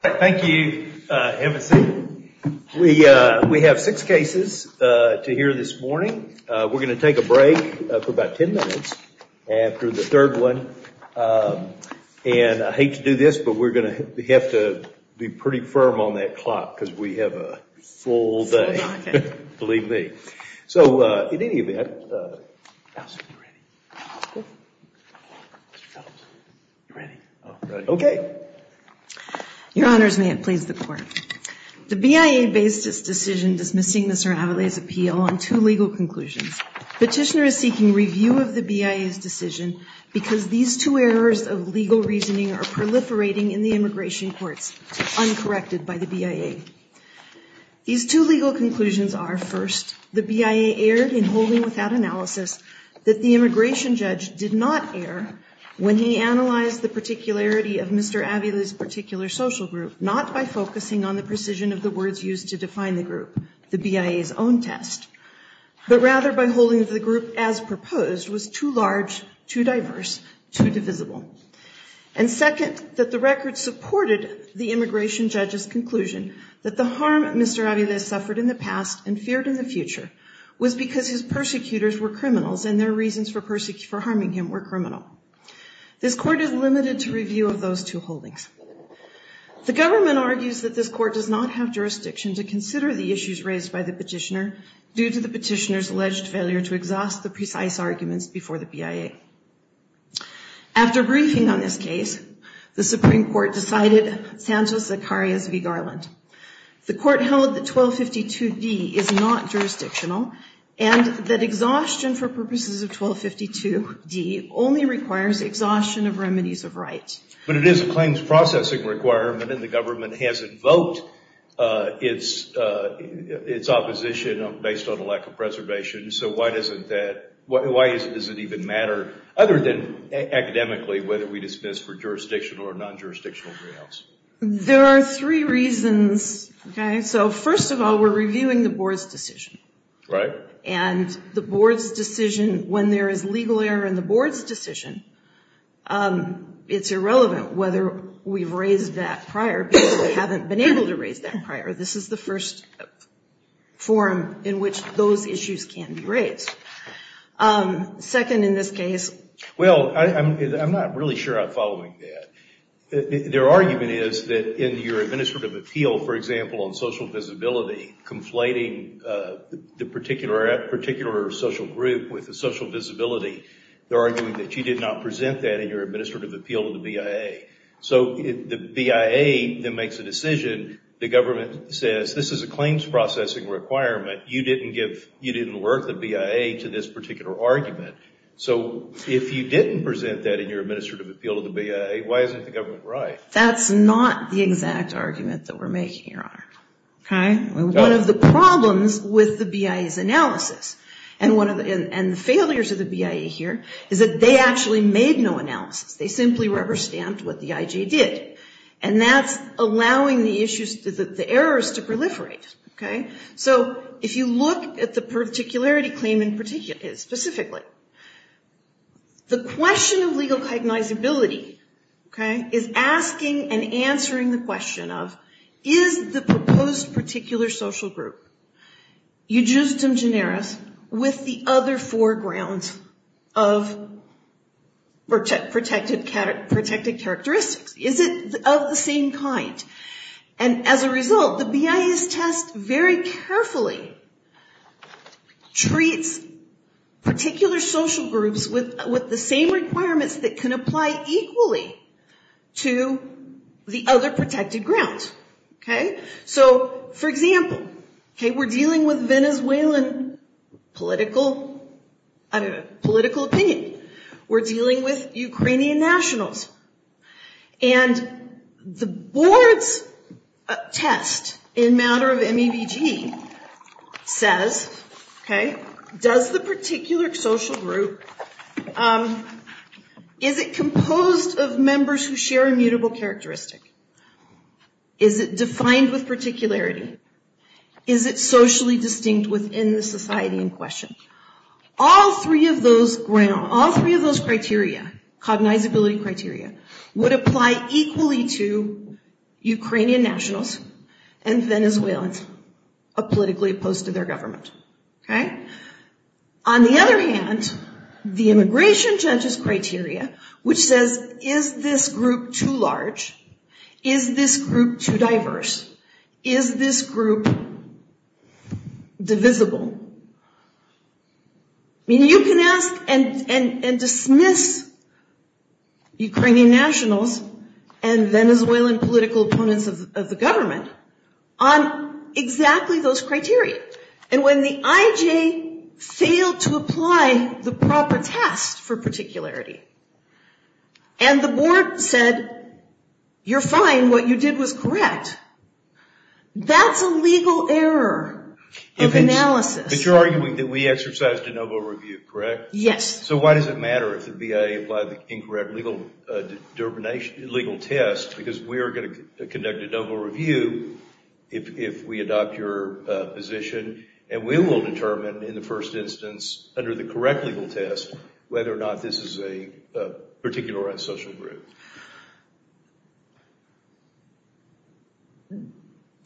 Thank you, Emma C. We have six cases to hear this morning. We're going to take a break for about ten minutes after the third one. I hate to do this, but we're going to have to be pretty firm on that clock because we have a full day, believe me. So, in any event, Alison, are you ready? Mr. Phelps, you ready? Oh, I'm ready. Okay. Your Honors, may it please the Court. The BIA based its decision dismissing Mr. Avella's appeal on two legal conclusions. Petitioner is seeking review of the BIA's decision because these two errors of legal reasoning are proliferating in the immigration courts, uncorrected by the BIA. These two legal conclusions are, first, the BIA erred in holding without analysis that the immigration judge did not err when he analyzed the particularity of Mr. Avella's particular social group, not by focusing on the precision of the words used to define the group, the BIA's own test, but rather by holding that the group as proposed was too large, too diverse, too divisible. And second, that the record supported the immigration judge's conclusion that the harm Mr. Avella suffered in the past and feared in the future was because his persecutors were criminals and their reasons for harming him were criminal. This Court is limited to review of those two holdings. The government argues that this Court does not have jurisdiction to consider the issues raised by the petitioner due to the petitioner's alleged failure to exhaust the precise arguments before the BIA. After a briefing on this case, the Supreme Court decided Sanchez-Zacarias v. Garland. The Court held that 1252d is not jurisdictional and that exhaustion for purposes of 1252d only requires exhaustion of remedies of right. But it is a claims processing requirement and the government has invoked its opposition based on a lack of preservation. So why does it even matter, other than academically, whether we dismiss for jurisdictional or non-jurisdictional grounds? There are three reasons. So first of all, we're reviewing the Board's decision. And the Board's decision, when there is legal error in the Board's decision, it's irrelevant whether we've raised that prior because we haven't been able to raise that prior. This is the first forum in which those issues can be raised. Second in this case... Well, I'm not really sure I'm following that. Their argument is that in your administrative appeal, for example, on social visibility, conflating the particular social group with the social visibility, they're arguing that you did not present that in your administrative appeal to the BIA. So the BIA then makes a decision, the government says, this is a claims processing requirement. You didn't work the BIA to this particular argument. So if you didn't present that in your administrative appeal to the BIA, why isn't the government right? That's not the exact argument that we're making, Your Honor. One of the problems with the BIA's analysis and the failures of the BIA here is that they actually made no analysis. They simply rubber-stamped what the IJ did. And that's allowing the errors to proliferate. So if you look at the particularity claim specifically, the question of legal cognizability is asking and answering the question of, is the proposed particular social group eugistum generis with the other four grounds of protected characteristics? Is it of the same kind? And as a result, the BIA's test very carefully treats particular social groups with the same requirements that can apply equally to the other protected grounds. So, for example, we're dealing with Venezuelan political opinion. We're dealing with Ukrainian nationals. And the board's test in matter of MEVG says, does the particular social group, is it composed of members who share immutable characteristic? Is it defined with particularity? Is it socially distinct within the society in question? All three of those criteria, cognizability criteria, would apply equally to Ukrainian nationals and Venezuelans politically opposed to their government. On the other hand, the immigration judge's criteria, which says, is this group too large? Is this group too diverse? Is this group divisible? You can ask and dismiss Ukrainian nationals and Venezuelan political opponents of the government on exactly those criteria. And when the IJ failed to apply the proper test for particularity, and the board said, you're fine, what you did was correct, that's a legal error of analysis. But you're arguing that we exercised de novo review, correct? Yes. So why does it matter if the VA applied the incorrect legal test, because we are going to conduct a de novo review if we adopt your position, and we will determine in the first instance, under the correct legal test, whether or not this is a particularized social group.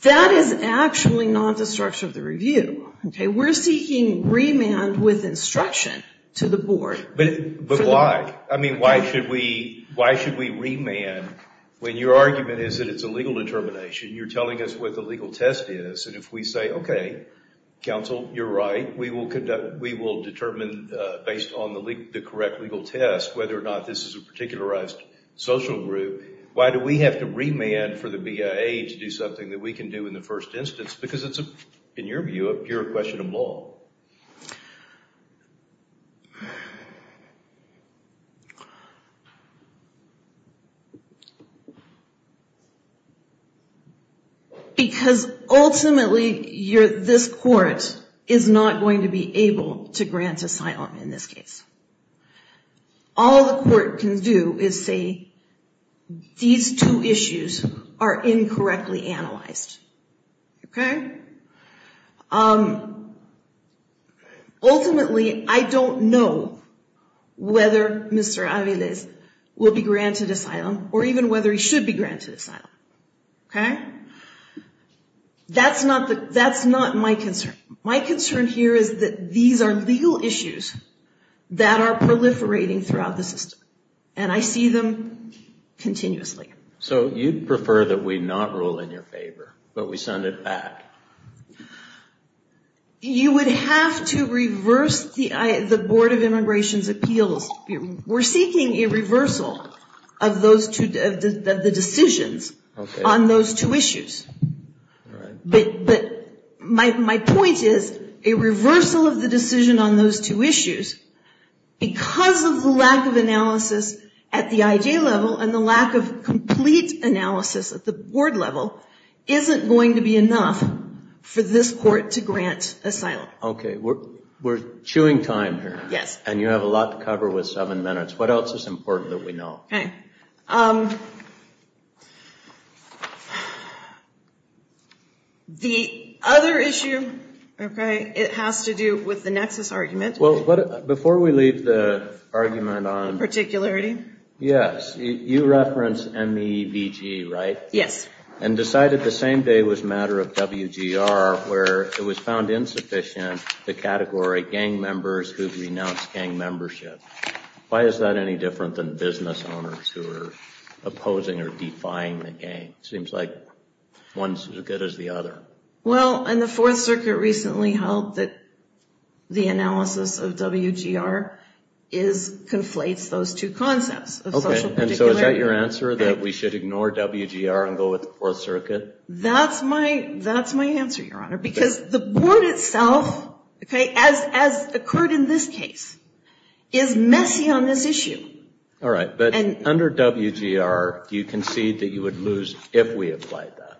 That is actually not the structure of the review. We're seeking remand with instruction to the board. But why? I mean, why should we remand when your argument is that it's a legal determination? You're telling us what the legal test is, and if we say, okay, counsel, you're right, we will determine based on the correct legal test whether or not this is a particularized social group, why do we have to remand for the VA to do something that we can do in the first instance? Because it's, in your view, a pure question of law. Because ultimately, this court is not going to be able to grant asylum in this case. All the court can do is say, these two issues are incorrectly analyzed, okay. Ultimately, I don't know whether Mr. Aviles will be granted asylum, or even whether he should be granted asylum, okay. That's not my concern. My concern here is that these are legal issues that are proliferating throughout the system, and I see them continuously. So you'd prefer that we not rule in your favor, but we send it back? You would have to reverse the Board of Immigration's appeals. We're seeking a reversal of the decisions on those two issues. But my point is, a reversal of the decision on those two issues, because of the lack of analysis at the IJ level and the lack of complete analysis at the Board level, isn't going to be enough for this court to grant asylum. Okay. We're chewing time here. Yes. And you have a lot to cover with seven minutes. What else is important that we know? The other issue, okay, it has to do with the nexus argument. Before we leave the argument on... Particularity? Yes. You referenced MEVG, right? Yes. And decided the same day was a matter of WGR, where it was found insufficient the category gang members who renounced gang membership. Why is that any different than business owners who are opposing or defying the gang? It seems like one's as good as the other. Well, and the Fourth Circuit recently held that the analysis of WGR conflates those two concepts. Okay. And so is that your answer, that we should ignore WGR and go with the Fourth Circuit? That's my answer, Your Honor, because the Board itself, okay, as occurred in this case, is messy on this issue. All right. But under WGR, do you concede that you would lose if we applied that?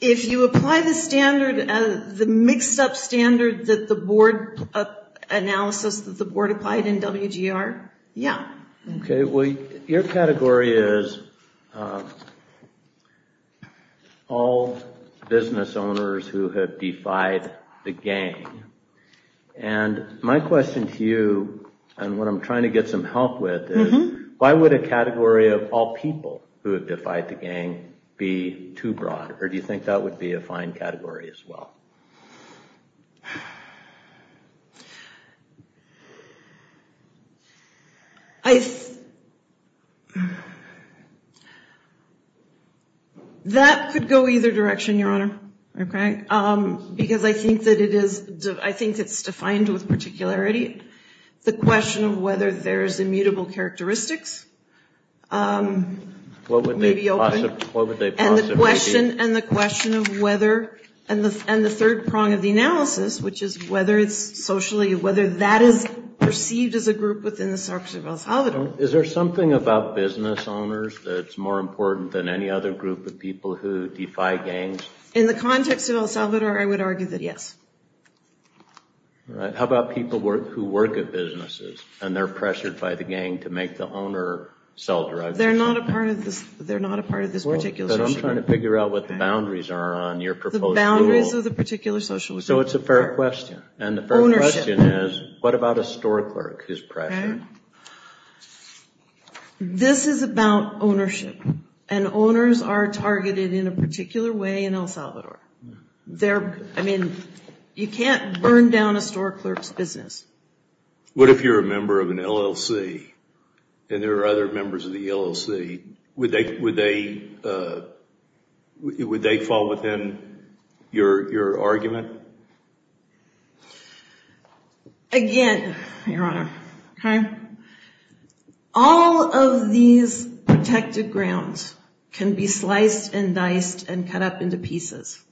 If you apply the standard, the mixed-up standard that the Board analysis that the Board applied in WGR? Yeah. Okay. Well, your category is all business owners who have defied the gang. And my question to you, and what I'm trying to get some help with, is why would a category of all people who have defied the gang be too broad? Or do you think that would be a fine category as well? I, that could go either direction, Your Honor, okay? Because I think that it is, I think it's defined with particularity. The question of whether there's immutable characteristics may be open. What would they possibly be? The question, and the question of whether, and the third prong of the analysis, which is whether it's socially, whether that is perceived as a group within the Sarps of El Salvador. Is there something about business owners that's more important than any other group of people who defy gangs? In the context of El Salvador, I would argue that yes. All right. How about people who work at businesses, and they're pressured by the gang to make the owner self-derived? But I'm trying to figure out what the boundaries are on your proposed rule. The boundaries of the particular social group. So it's a fair question. Ownership. And the fair question is, what about a store clerk who's pressured? This is about ownership, and owners are targeted in a particular way in El Salvador. They're, I mean, you can't burn down a store clerk's business. What if you're a member of an LLC, and there are other members of the LLC? Would they fall within your argument? Again, Your Honor, all of these protected grounds can be sliced and diced and cut up into pieces.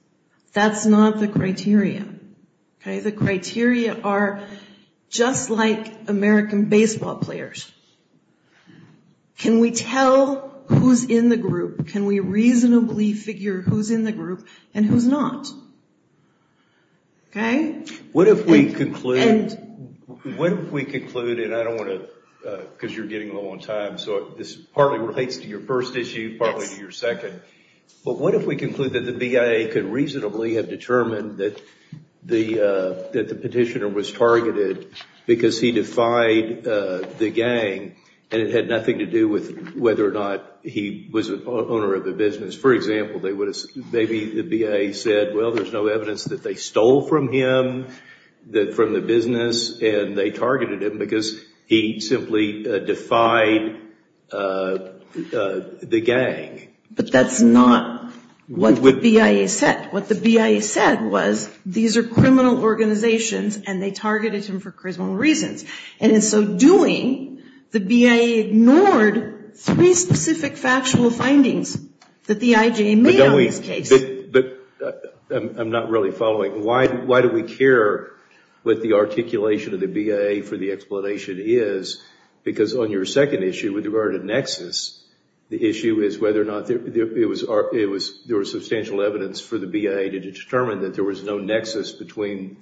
That's not the criteria. The criteria are just like American baseball players. Can we tell who's in the group? Can we reasonably figure who's in the group and who's not? What if we conclude, and I don't want to, because you're getting a little on time, so this partly relates to your first issue, partly to your second. But what if we conclude that the BIA could reasonably have determined that the petitioner was targeted because he defied the gang, and it had nothing to do with whether or not he was an owner of the business? For example, maybe the BIA said, well, there's no evidence that they stole from him from the business, and they targeted him because he simply defied the gang. But that's not what the BIA said. What the BIA said was these are criminal organizations, and they targeted him for criminal reasons. And in so doing, the BIA ignored three specific factual findings that the IJA made on this case. But I'm not really following. Why do we care what the articulation of the BIA for the explanation is? Because on your second issue with regard to nexus, the issue is whether or not there was substantial evidence for the BIA to determine that there was no nexus between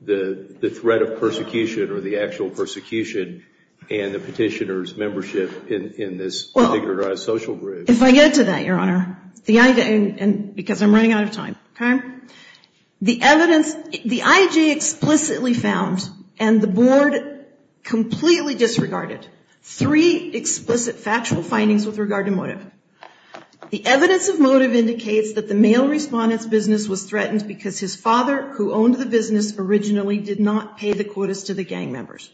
the threat of persecution or the actual persecution and the petitioner's membership in this social group. If I get to that, Your Honor, because I'm running out of time, okay? The IJA explicitly found and the board completely disregarded three explicit factual findings with regard to motive. The evidence of motive indicates that the male respondent's business was threatened because his father, who owned the business originally, did not pay the quotas to the gang members.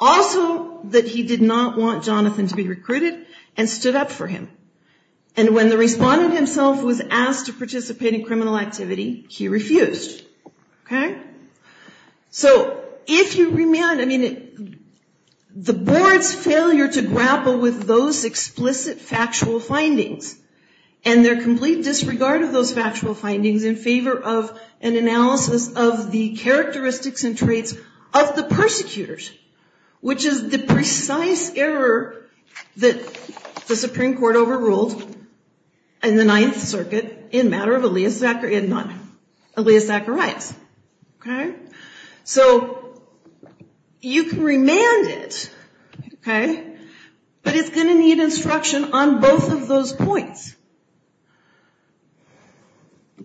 Also, that he did not want Jonathan to be recruited and stood up for him. And when the respondent himself was asked to participate in criminal activity, he refused. Okay? So if you remand, I mean, the board's failure to grapple with those explicit factual findings and their complete disregard of those factual findings in favor of an analysis of the characteristics and traits of the persecutors, which is the precise error that the Supreme Court overruled. And the Ninth Circuit in matter of Aliyah Zacharias. Okay? So you can remand it, okay, but it's going to need instruction on both of those points.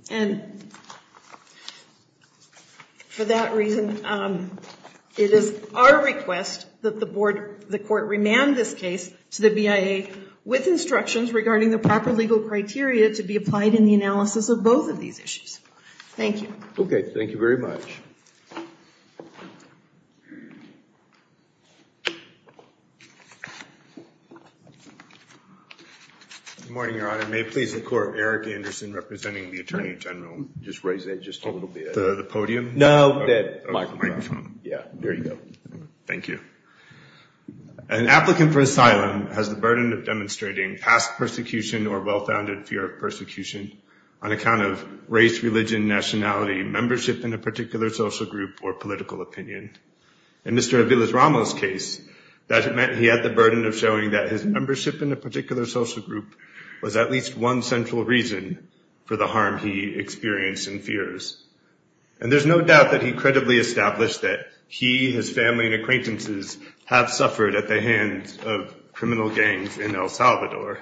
And for that reason, it is our request that the board, the court remand this case to the BIA with instructions regarding the proper legal criteria to be applied in the analysis of both of these issues. Thank you. Okay. Thank you very much. Good morning, Your Honor. May it please the Court, Eric Anderson representing the Attorney General. Just raise that just a little bit. The podium? No, the microphone. Yeah, there you go. Thank you. An applicant for asylum has the burden of demonstrating past persecution or well-founded fear of persecution on account of race, religion, nationality, membership in a particular social group, or political opinion. In Mr. Aviles-Ramos' case, that meant he had the burden of showing that his membership in a particular social group was at least one central reason for the harm he experienced and fears. And there's no doubt that he credibly established that he, his family, and acquaintances have suffered at the hands of criminal gangs in El Salvador.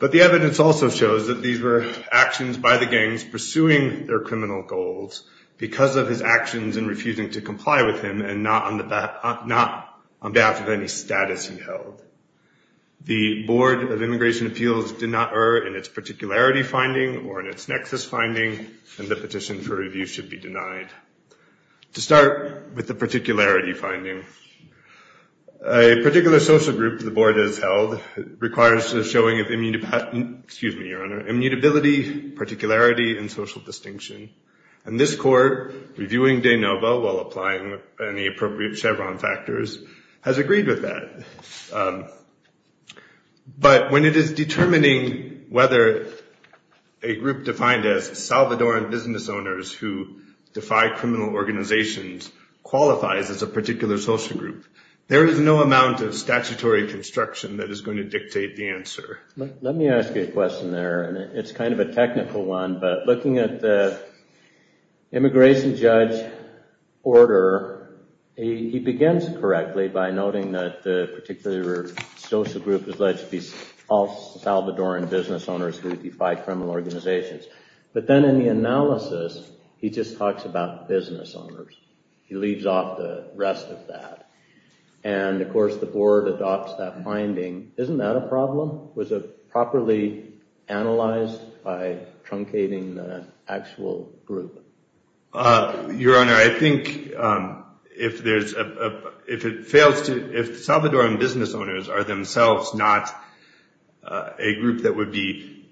But the evidence also shows that these were actions by the gangs pursuing their criminal goals because of his actions in refusing to comply with him and not on behalf of any status he held. The Board of Immigration Appeals did not err in its particularity finding or in its nexus finding, and the petition for review should be denied. To start with the particularity finding, a particular social group the board has held requires the showing of immutability, particularity, and social distinction. And this court, reviewing de novo while applying any appropriate Chevron factors, has agreed with that. But when it is determining whether a group defined as Salvadoran, businessman, or criminal, and business owners who defy criminal organizations qualifies as a particular social group, there is no amount of statutory construction that is going to dictate the answer. Let me ask you a question there, and it's kind of a technical one, but looking at the immigration judge order, he begins correctly by noting that the particular social group is alleged to be all Salvadoran business owners who defy criminal organizations. But then in the analysis, he just talks about business owners. He leaves off the rest of that. And of course the board adopts that finding. Isn't that a problem? Was it properly analyzed by truncating the actual group? Your Honor, I think if Salvadoran business owners are themselves not a group that would be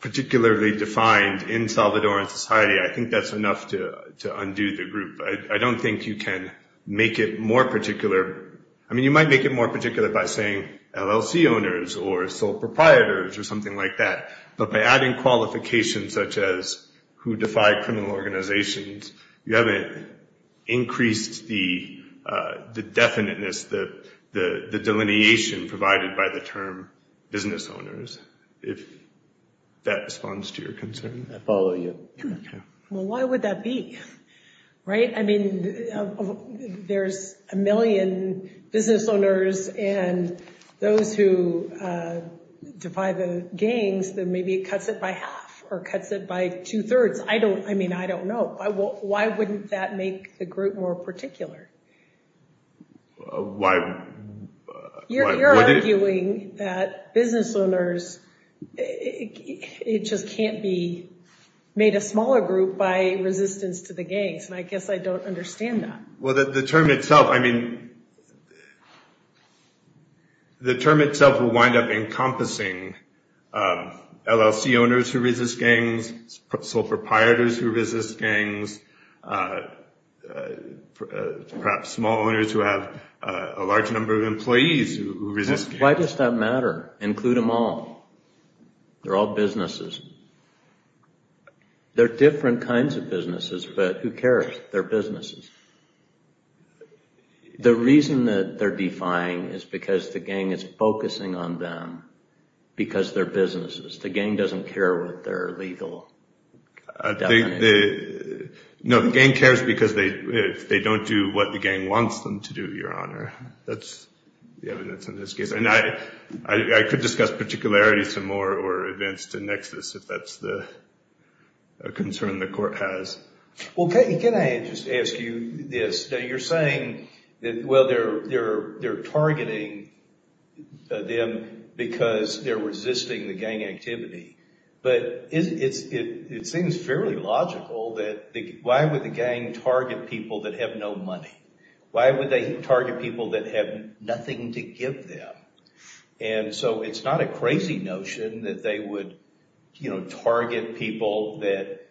particularly defined in Salvadoran society, I think that's enough to undo the group. I don't think you can make it more particular. I mean you might make it more particular by saying LLC owners or sole proprietors or something like that. But by adding qualifications such as who defied criminal organizations, you haven't increased the definiteness, the delineation provided by the term business owners, if that responds to your concern. I follow you. Well, why would that be? There's a million business owners and those who defy the gangs, maybe it cuts it by half or cuts it by two-thirds. I don't know. Why wouldn't that make the group more particular? Why would it? You're arguing that business owners, it just can't be made a smaller group by resistance to the gangs. And I guess I don't understand that. Well, the term itself will wind up encompassing LLC owners who resist gangs, sole proprietors who resist gangs, perhaps small owners who have a large number of employees who resist gangs. Why does that matter? Include them all. They're all businesses. They're different kinds of businesses, but who cares? They're businesses. The reason that they're defying is because the gang is focusing on them because they're businesses. The gang doesn't care what their legal definition is. No, the gang cares because they don't do what the gang wants them to do, Your Honor. That's the evidence in this case. And I could discuss particularities some more or events to nexus if that's a concern the court has. Well, can I just ask you this? You're saying that, well, they're targeting them because they're resisting the gang activity. But it seems fairly logical that why would the gang target people that have no money? Why would they target people that have nothing to give them? And so it's not a crazy notion that they would target people that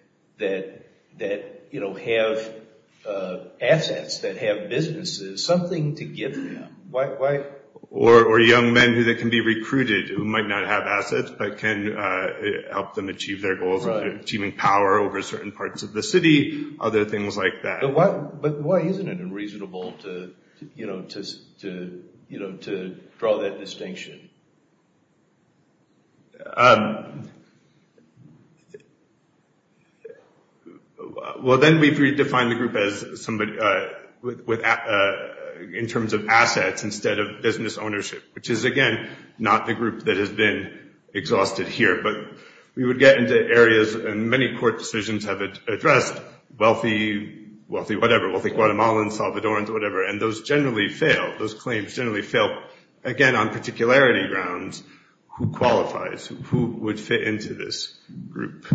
have assets, that have businesses, something to give them. Or young men who can be recruited who might not have assets but can help them achieve their goals of achieving power over certain parts of the city, other things like that. But why isn't it unreasonable to draw that distinction? Well, then we've redefined the group as somebody in terms of assets instead of business ownership, which is, again, not the group that has been exhausted here. But we would get into areas, and many court decisions have addressed wealthy, whatever, wealthy Guatemalans, Salvadorans, whatever, and those generally fail. Those claims generally fail. Again, on particularity grounds, who qualifies? Who would fit into this group?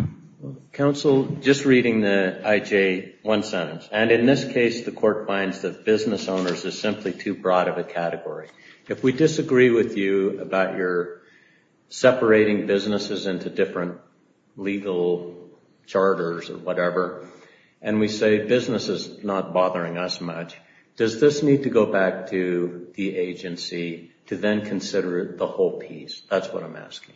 Counsel, just reading the IJ one sentence. And in this case, the court finds that business owners is simply too broad of a category. If we disagree with you about your separating businesses into different legal charters or whatever, and we say business is not bothering us much, does this need to go back to the agency to then consider the whole piece? That's what I'm asking.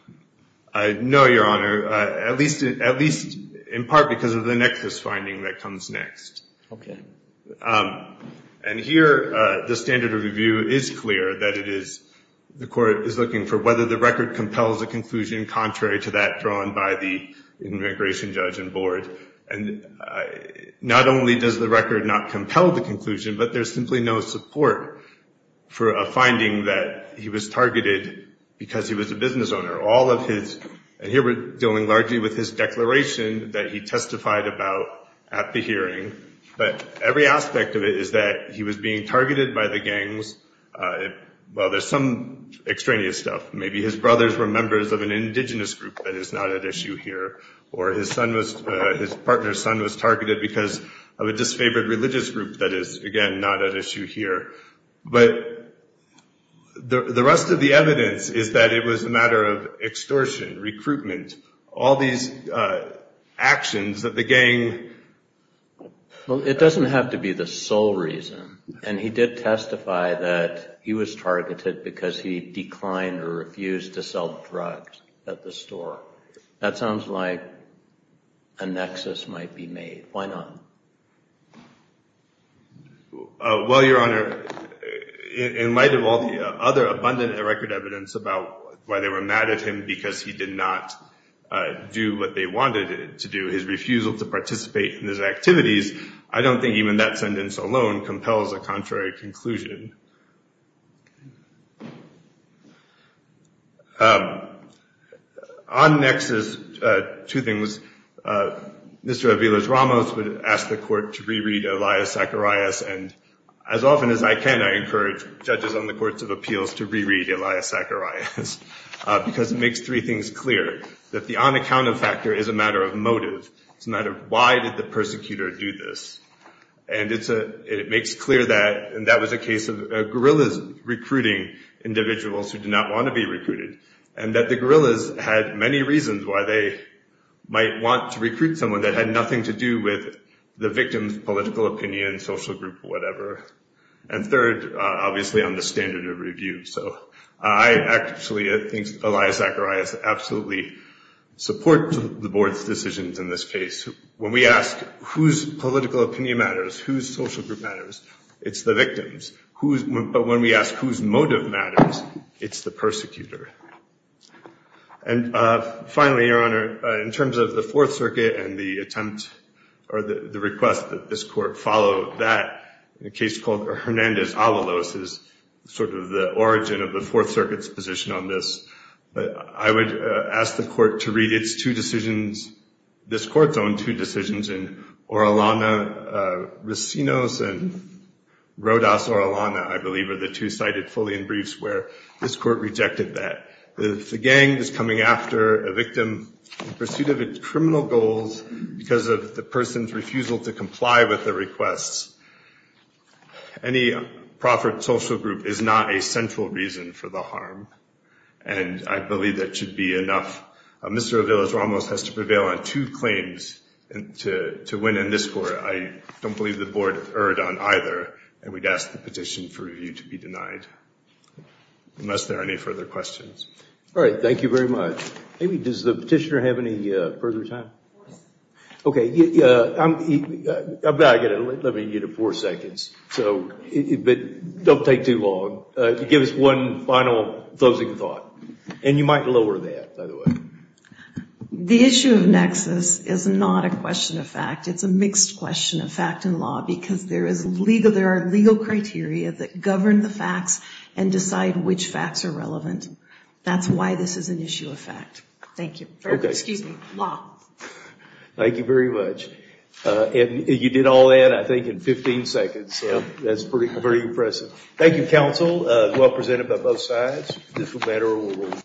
No, Your Honor, at least in part because of the nexus finding that comes next. And here, the standard of review is clear that it is, the court is looking for whether the record compels a conclusion contrary to that drawn by the immigration judge and board. And not only does the record not compel the conclusion, but there's simply no support for a finding that he was targeted because he was a business owner. All of his, and here we're dealing largely with his declaration that he testified about at the hearing. But every aspect of it is that he was being targeted by the gangs. Well, there's some extraneous stuff. Maybe his brothers were members of an indigenous group that is not at issue here, or his partner's son was targeted because of a disfavored religious group that is, again, not at issue here. But the rest of the evidence is that it was a matter of extortion, recruitment, all these actions of the gang. Well, it doesn't have to be the sole reason. And he did testify that he was targeted because he declined or refused to sell drugs at the store. That sounds like a nexus might be made. Why not? Well, Your Honor, in light of all the other abundant record evidence about why they were mad at him because he did not do what they wanted him to do, his refusal to participate in his activities, I don't think even that sentence alone compels a contrary conclusion. On nexus, two things. Mr. Aviles-Ramos would ask the court to reread Elias Zacharias. And as often as I can, I encourage judges on the courts of appeals to reread Elias Zacharias because it makes three things clear, that the unaccounted factor is a matter of motive. It's a matter of why did the persecutor do this. And it makes clear that, and that was a case of guerrillas recruiting individuals who did not want to be recruited and that the guerrillas had many reasons why they might want to recruit someone that had nothing to do with the victim's political opinion, social group, whatever. And third, obviously, on the standard of review. So I actually think Elias Zacharias absolutely supports the board's decisions in this case. When we ask whose political opinion matters, whose social group matters, it's the victims. But when we ask whose motive matters, it's the persecutor. And finally, Your Honor, in terms of the Fourth Circuit and the attempt, or the request that this court follow that, the case called Hernandez-Avalos is sort of the origin of the Fourth Circuit's position on this. But I would ask the court to read its two decisions, this court's own two decisions in Orellana-Racinos and Rodas-Orellana, I believe, are the two cited fully in briefs where this court rejected that. If the gang is coming after a victim in pursuit of its criminal goals because of the person's refusal to comply with the requests, any proffered social group is not a central reason for the harm. And I believe that should be enough. Mr. Avalos-Ramos has to prevail on two claims to win in this court. I don't believe the board erred on either, and we'd ask the petition for review to be denied. Unless there are any further questions. All right, thank you very much. Does the petitioner have any further time? I'm going to limit you to four seconds, but don't take too long. Give us one final closing thought. And you might lower that, by the way. The issue of nexus is not a question of fact. It's a mixed question of fact and law, because there are legal criteria that govern the facts and decide which facts are relevant. That's why this is an issue of fact. Thank you very much. Thank you, counsel.